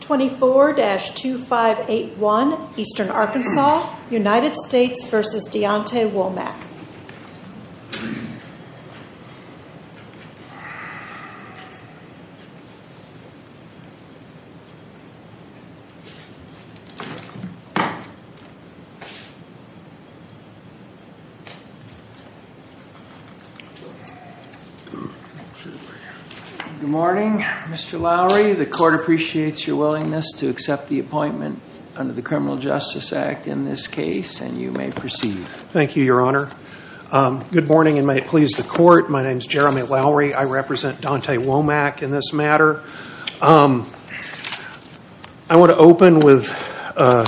24-2581 Eastern Arkansas United States v. Deonte Womack Good morning, Mr. Lowry. The court appreciates your willingness to accept the appointment under the Criminal Justice Act in this case, and you may proceed. Thank you, Your Honor. Good morning, and may it please the court. My name is Jeremy Lowry. I represent Deonte Womack in this matter. I want to open with a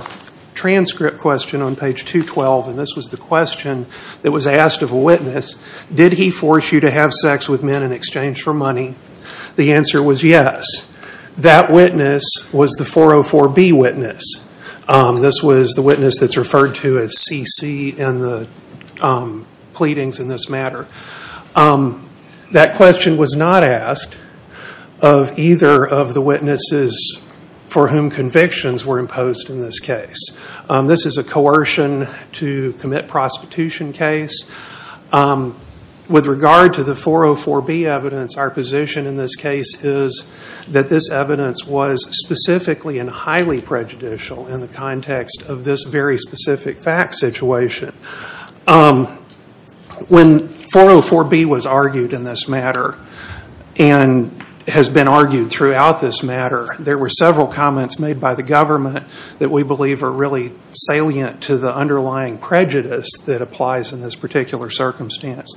transcript question on page 212, and this was the question that was asked of a witness. Did he force you to have sex with men in exchange for money? The answer was yes. That witness was the 404B witness. This was the witness that's referred to as CC in the pleadings in this matter. That question was not asked of either of the witnesses for whom convictions were imposed in this case. This is a coercion to commit prostitution case. With regard to the 404B evidence, our position in this case is that this evidence was specifically and highly prejudicial in the context of this very specific fact situation. When 404B was argued in this matter, and has been argued throughout this matter, there were several comments made by the government that we believe are really salient to the underlying prejudice that applies in this particular circumstance.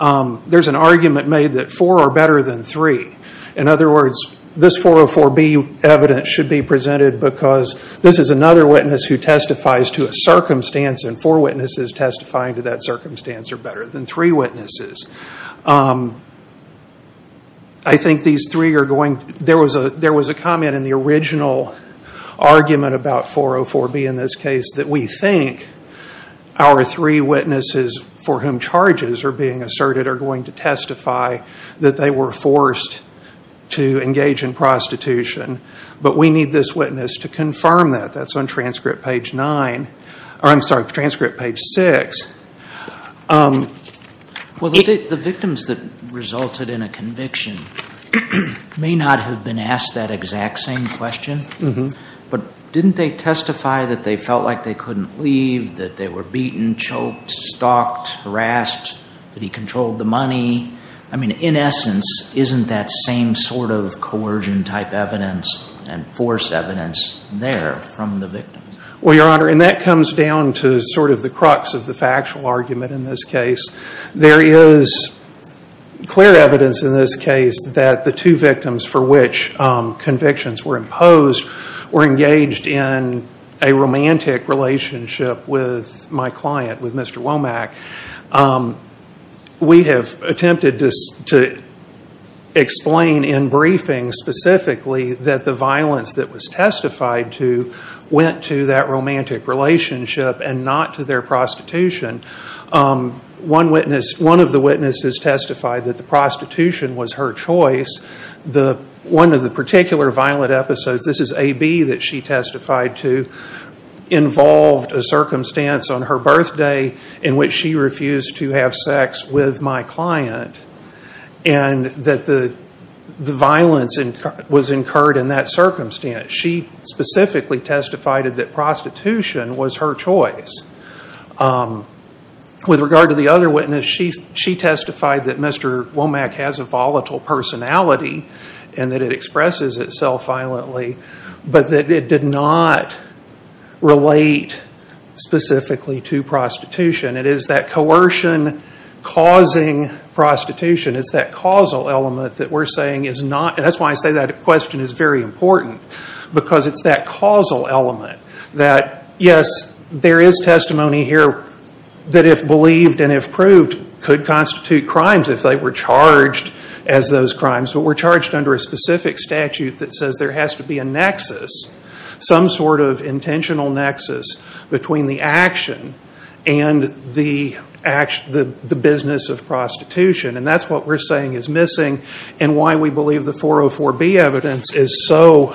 There's an argument made that four are better than three. In other words, this 404B evidence should be presented because this is another witness who testifies to a circumstance, and four witnesses testifying to that circumstance are better than three witnesses. There was a comment in the original argument about 404B in this case that we think our three witnesses for whom charges are being asserted are going to testify that they were forced to engage in prostitution, but we need this witness to confirm that. That's on transcript page six. The victims that resulted in a conviction may not have been asked that exact same question, but didn't they testify that they felt like they couldn't leave, that they were beaten, choked, stalked, harassed, that he controlled the money? In essence, isn't that same sort of coercion-type evidence and force evidence there from the victims? Well, Your Honor, and that comes down to sort of the crux of the factual argument in this case. There is clear evidence in this case that the two victims for which convictions were imposed were engaged in a romantic relationship with my client, with Mr. Womack. We have attempted to explain in briefing specifically that the violence that was testified to went to that romantic relationship and not to their prostitution. One of the witnesses testified that the prostitution was her choice. One of the particular violent episodes, this is AB that she testified to, involved a circumstance on her birthday in which she refused to have sex with my client and that the violence was incurred in that circumstance. She specifically testified that prostitution was her choice. With regard to the other witness, she testified that Mr. Womack has a volatile personality and that it expresses itself violently, but that it did not relate specifically to prostitution. It is that coercion causing prostitution, it's that causal element that we're saying is not, and that's why I say that question is very important, because it's that causal element that, yes, there is testimony here that if believed and if proved could constitute crimes if they were charged as those crimes, but were charged under a specific statute that says there has to be a nexus, some sort of intentional nexus between the action and the business of prostitution. And that's what we're saying is missing and why we believe the 404B evidence is so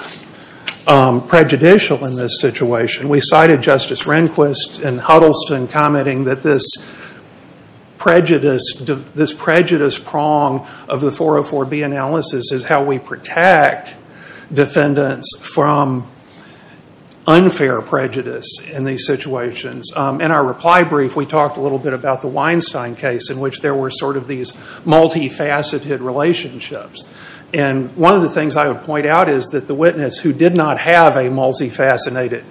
prejudicial in this situation. We cited Justice Rehnquist and Huddleston commenting that this prejudice prong of the 404B analysis is how we protect defendants from unfair prejudice in these situations. In our reply brief, we talked a little bit about the Weinstein case in which there were sort of these multifaceted relationships. And one of the things I would point out is that the witness who did not have a multifaceted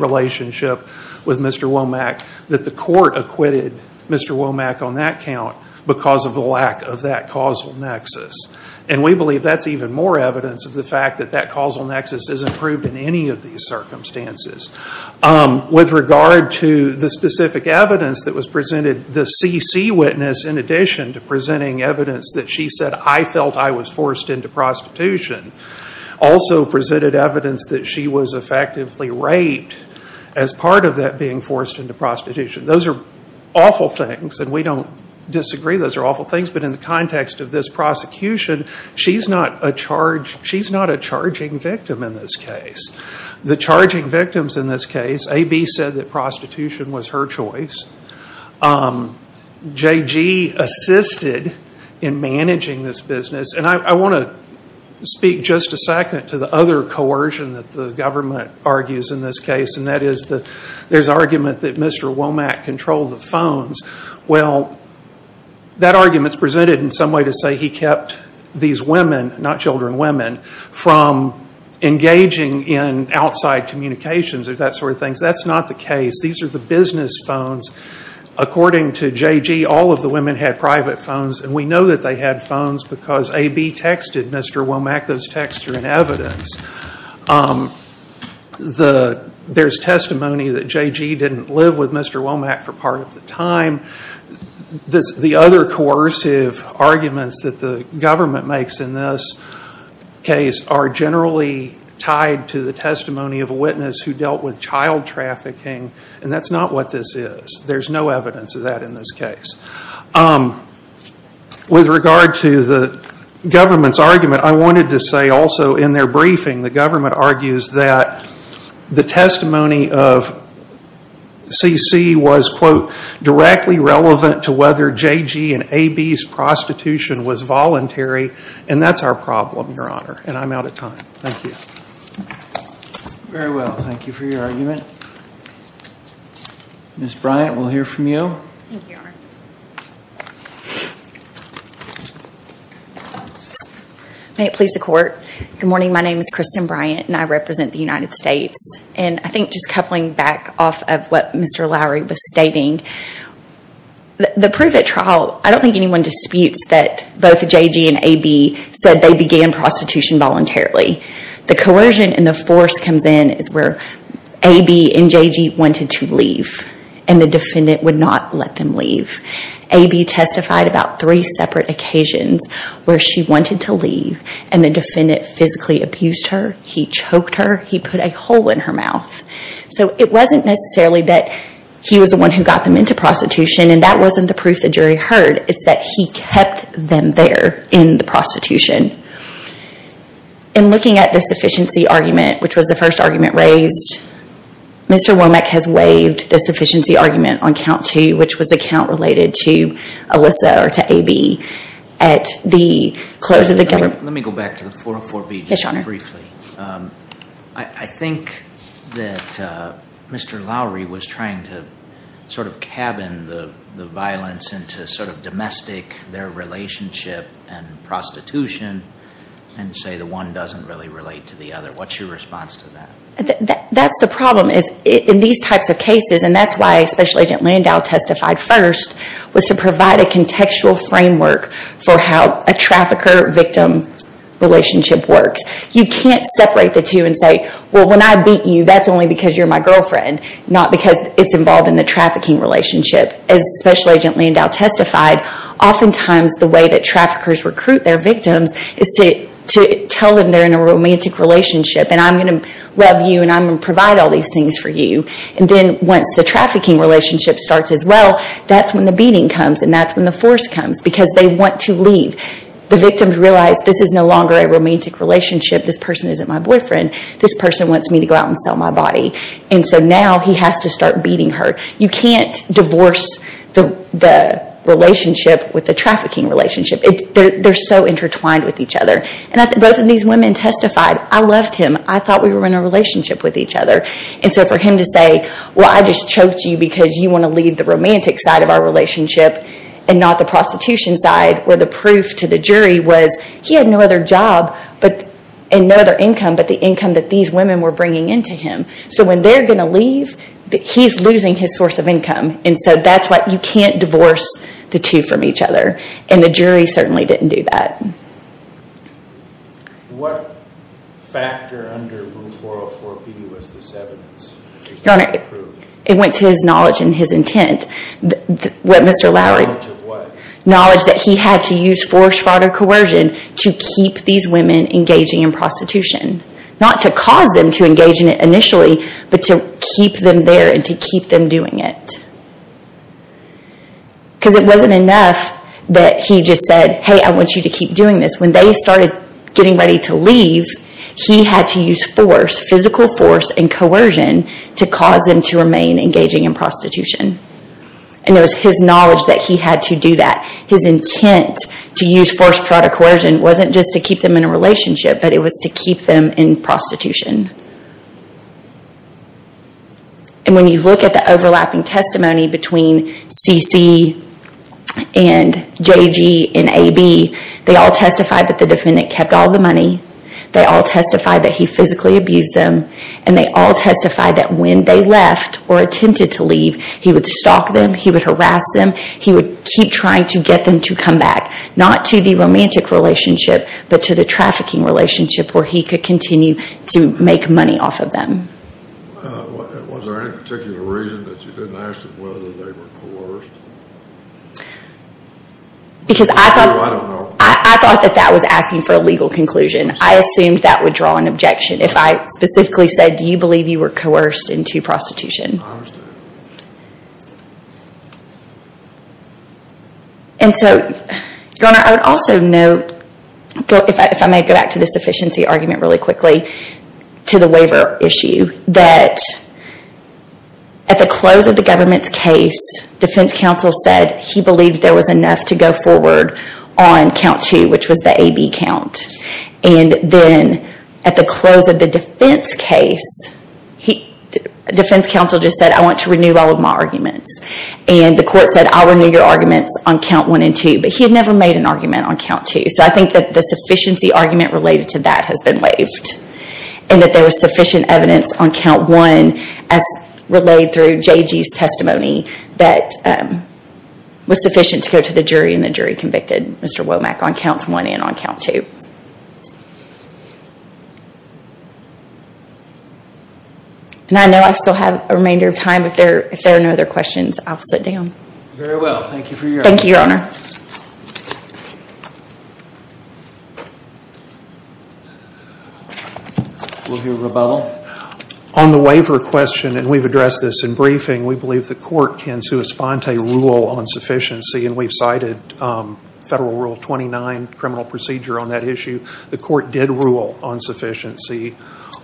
relationship with Mr. Womack, that the court acquitted Mr. Womack on that count because of the lack of that causal nexus. And we believe that's even more evidence of the fact that that causal nexus isn't proved in any of these circumstances. With regard to the specific evidence that was presented, the CC witness, in addition to presenting evidence that she said, I felt I was forced into prostitution, also presented evidence that she was effectively raped as part of that being forced into prostitution. Those are awful things and we don't disagree. Those are awful things. But in the context of this prosecution, she's not a charging victim in this case. The charging victims in this case, AB said that prostitution was her choice. JG assisted in managing this business. And I want to speak just a second to the other coercion that the government argues in this case, and that is there's argument that Mr. Womack controlled the phones. Well, that argument is presented in some way to say he kept these women, not children, women, from engaging in outside communications or that sort of thing. That's not the case. These are the business phones. According to JG, all of the women had private phones and we know that they had phones because AB texted Mr. Womack. Those texts are in evidence. The business phones are in evidence. There's testimony that JG didn't live with Mr. Womack for part of the time. The other coercive arguments that the government makes in this case are generally tied to the testimony of a witness who dealt with child trafficking and that's not what this is. There's no evidence of that in this case. With regard to the government's argument, I wanted to say also in their briefing, the government argues that the testimony of CC was, quote, directly relevant to whether JG and AB's prostitution was voluntary, and that's our problem, Your Honor, and I'm out of time. Thank you. Very well. Thank you for your argument. Ms. Bryant, we'll hear from you. Thank you, Your Honor. May it please the Court. Good morning. My name is Kristen Bryant and I represent the United States. I think just coupling back off of what Mr. Lowry was stating, the proof at trial, I don't think anyone disputes that both JG and AB said they began prostitution voluntarily. The coercion and the force comes in is where AB and JG wanted to leave and the defendant would not let them leave. AB testified about three separate occasions where she wanted to leave and the defendant physically abused her. He choked her. He put a hole in her mouth. So it wasn't necessarily that he was the one who got them into prostitution and that wasn't the proof the jury heard. It's that he kept them there in the prostitution. In looking at the sufficiency argument, which was the first argument raised, Mr. Womack has waived the sufficiency argument on count two, which was the count related to Alyssa or to AB at the close of the government. Let me go back to the 404B just briefly. Yes, Your Honor. I think that Mr. Lowry was trying to sort of cabin the violence into sort of domestic, their relationship and prostitution and say the one doesn't really relate to the That's the problem. In these types of cases, and that's why Special Agent Landau testified first, was to provide a contextual framework for how a trafficker-victim relationship works. You can't separate the two and say, well, when I beat you, that's only because you're my girlfriend, not because it's involved in the trafficking relationship. As Special Agent Landau testified, oftentimes the way that traffickers recruit their victims is to tell them they're in a romantic relationship and I'm going to love you and I'm going to provide all these things for you. And then once the trafficking relationship starts as well, that's when the beating comes and that's when the force comes because they want to leave. The victims realize this is no longer a romantic relationship. This person isn't my boyfriend. This person wants me to go out and sell my body. And so now he has to start beating her. You can't divorce the relationship with the trafficking relationship. They're so intertwined with each other. Both of these women testified, I loved him. I thought we were in a relationship with each other. And so for him to say, well, I just choked you because you want to leave the romantic side of our relationship and not the prostitution side, where the proof to the jury was he had no other job and no other income but the income that these women were bringing into him. So when they're going to leave, he's losing his source of income. And so that's why you can't divorce the two from each other. And the jury certainly didn't do that. What factor under Rule 404B was this evidence? Your Honor, it went to his knowledge and his intent. Knowledge of what? Knowledge that he had to use force, fraud, or coercion to keep these women engaging in prostitution. Not to cause them to engage in it initially, but to keep them there and to keep them doing it. Because it wasn't enough that he just said, hey, I want you to keep doing this. When they started getting ready to leave, he had to use force, physical force and coercion to cause them to remain engaging in prostitution. And it was his knowledge that he had to do that. His intent to use force, fraud, or coercion wasn't just to keep them in a relationship, but it was to keep them in prostitution. And when you look at the overlapping testimony between C.C. and J.G. and A.B., they all testified that the defendant kept all the money. They all testified that he physically abused them. And they all testified that when they left or attempted to leave, he would stalk them, he would harass them, he would keep trying to get them to come back. Not to the romantic relationship, but to the trafficking relationship where he could continue to make money off of them. Was there any particular reason that you didn't ask them whether they were coerced? Because I thought that was asking for a legal conclusion. I assumed that would draw an objection if I specifically said, do you believe you were coerced into prostitution? I understand. And so, Your Honor, I would also note, if I may go back to this efficiency argument really quickly, to the waiver issue, that at the close of the government's case, defense counsel said he believed there was enough to go forward on count two, which was the A.B. count. And then at the close of the defense case, defense counsel just said, I want to renew all of my arguments. And the court said, I'll renew your arguments on count one and two. But he had never made an argument on count two. So I think that the sufficiency argument related to that has been waived. And that there was sufficient evidence on count one as relayed through J.G.'s testimony that was sufficient to go to the jury and the jury convicted Mr. Womack on counts one and on count two. And I know I still have a remainder of time. If there are no other questions, I'll sit down. Very well. Thank you for your time. Thank you, Your Honor. We'll hear rebuttal. On the waiver question, and we've addressed this in briefing, we believe the court can on sufficiency. And we've cited Federal Rule 29 criminal procedure on that issue. The court did rule on sufficiency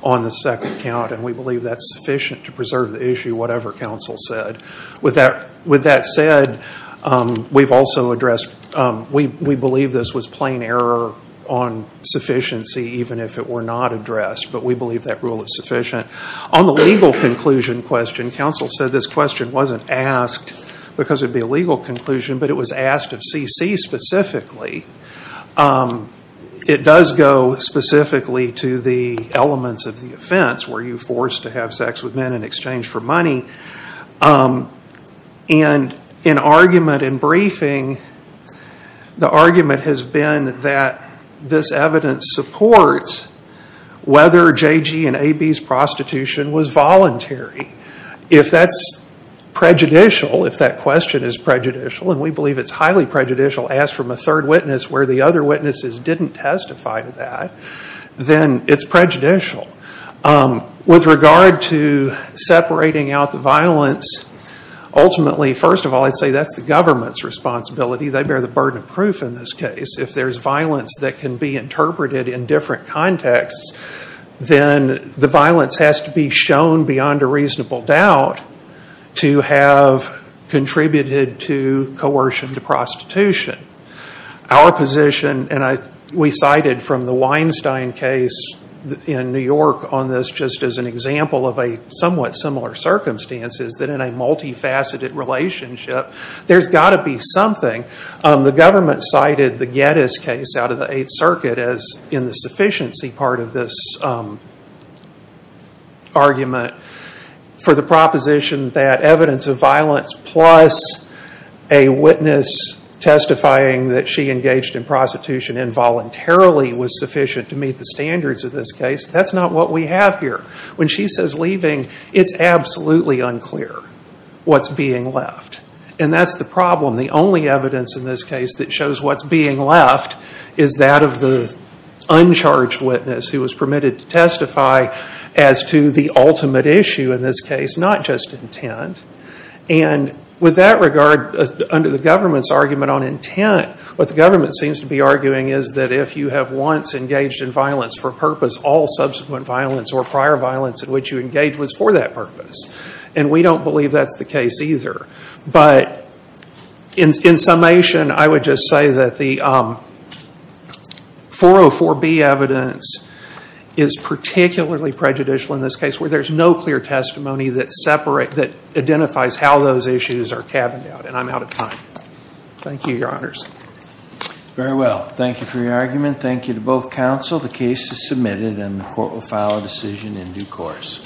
on the second count. And we believe that's sufficient to preserve the issue, whatever counsel said. With that said, we believe this was plain error on sufficiency, even if it were not addressed. But we believe that rule is sufficient. On the legal conclusion question, counsel said this question wasn't asked because it would be a legal conclusion, but it was asked of C.C. specifically. It does go specifically to the elements of the offense. Were you forced to have sex with men in exchange for money? And in argument in briefing, the argument has been that this evidence supports whether J.G. and A.B.'s prostitution was voluntary. If that's prejudicial, if that question is prejudicial, and we believe it's highly prejudicial, asked from a third witness where the other witnesses didn't testify to that, then it's prejudicial. With regard to separating out the violence, ultimately, first of all, I'd say that's the government's responsibility. They bear the burden of proof in this case. If there's violence that can be interpreted in different contexts, then the violence has to be shown beyond a reasonable doubt to have contributed to coercion to prostitution. Our position, and we cited from the Weinstein case in New York on this just as an example of a somewhat similar circumstance, is that in a multifaceted relationship, there's got to be something. The government cited the Geddes case out of the Eighth Circuit as in the sufficiency part of this argument for the proposition that evidence of violence plus a witness testifying that she engaged in prostitution involuntarily was sufficient to meet the standards of this case. That's not what we have here. When she says leaving, it's absolutely unclear what's being left. That's the problem. The only evidence in this case that shows what's being left is that of the uncharged witness who was permitted to testify as to the ultimate issue in this case, not just intent. With that regard, under the government's argument on intent, what the government seems to be arguing is that if you have once engaged in violence for a purpose, all subsequent violence or prior And we don't believe that's the case either. But in summation, I would just say that the 404B evidence is particularly prejudicial in this case where there's no clear testimony that identifies how those issues are cabined out. And I'm out of time. Thank you, Your Honors. Very well. Thank you for your argument. Thank you to both counsel. The case is submitted and the court will file a decision in due course.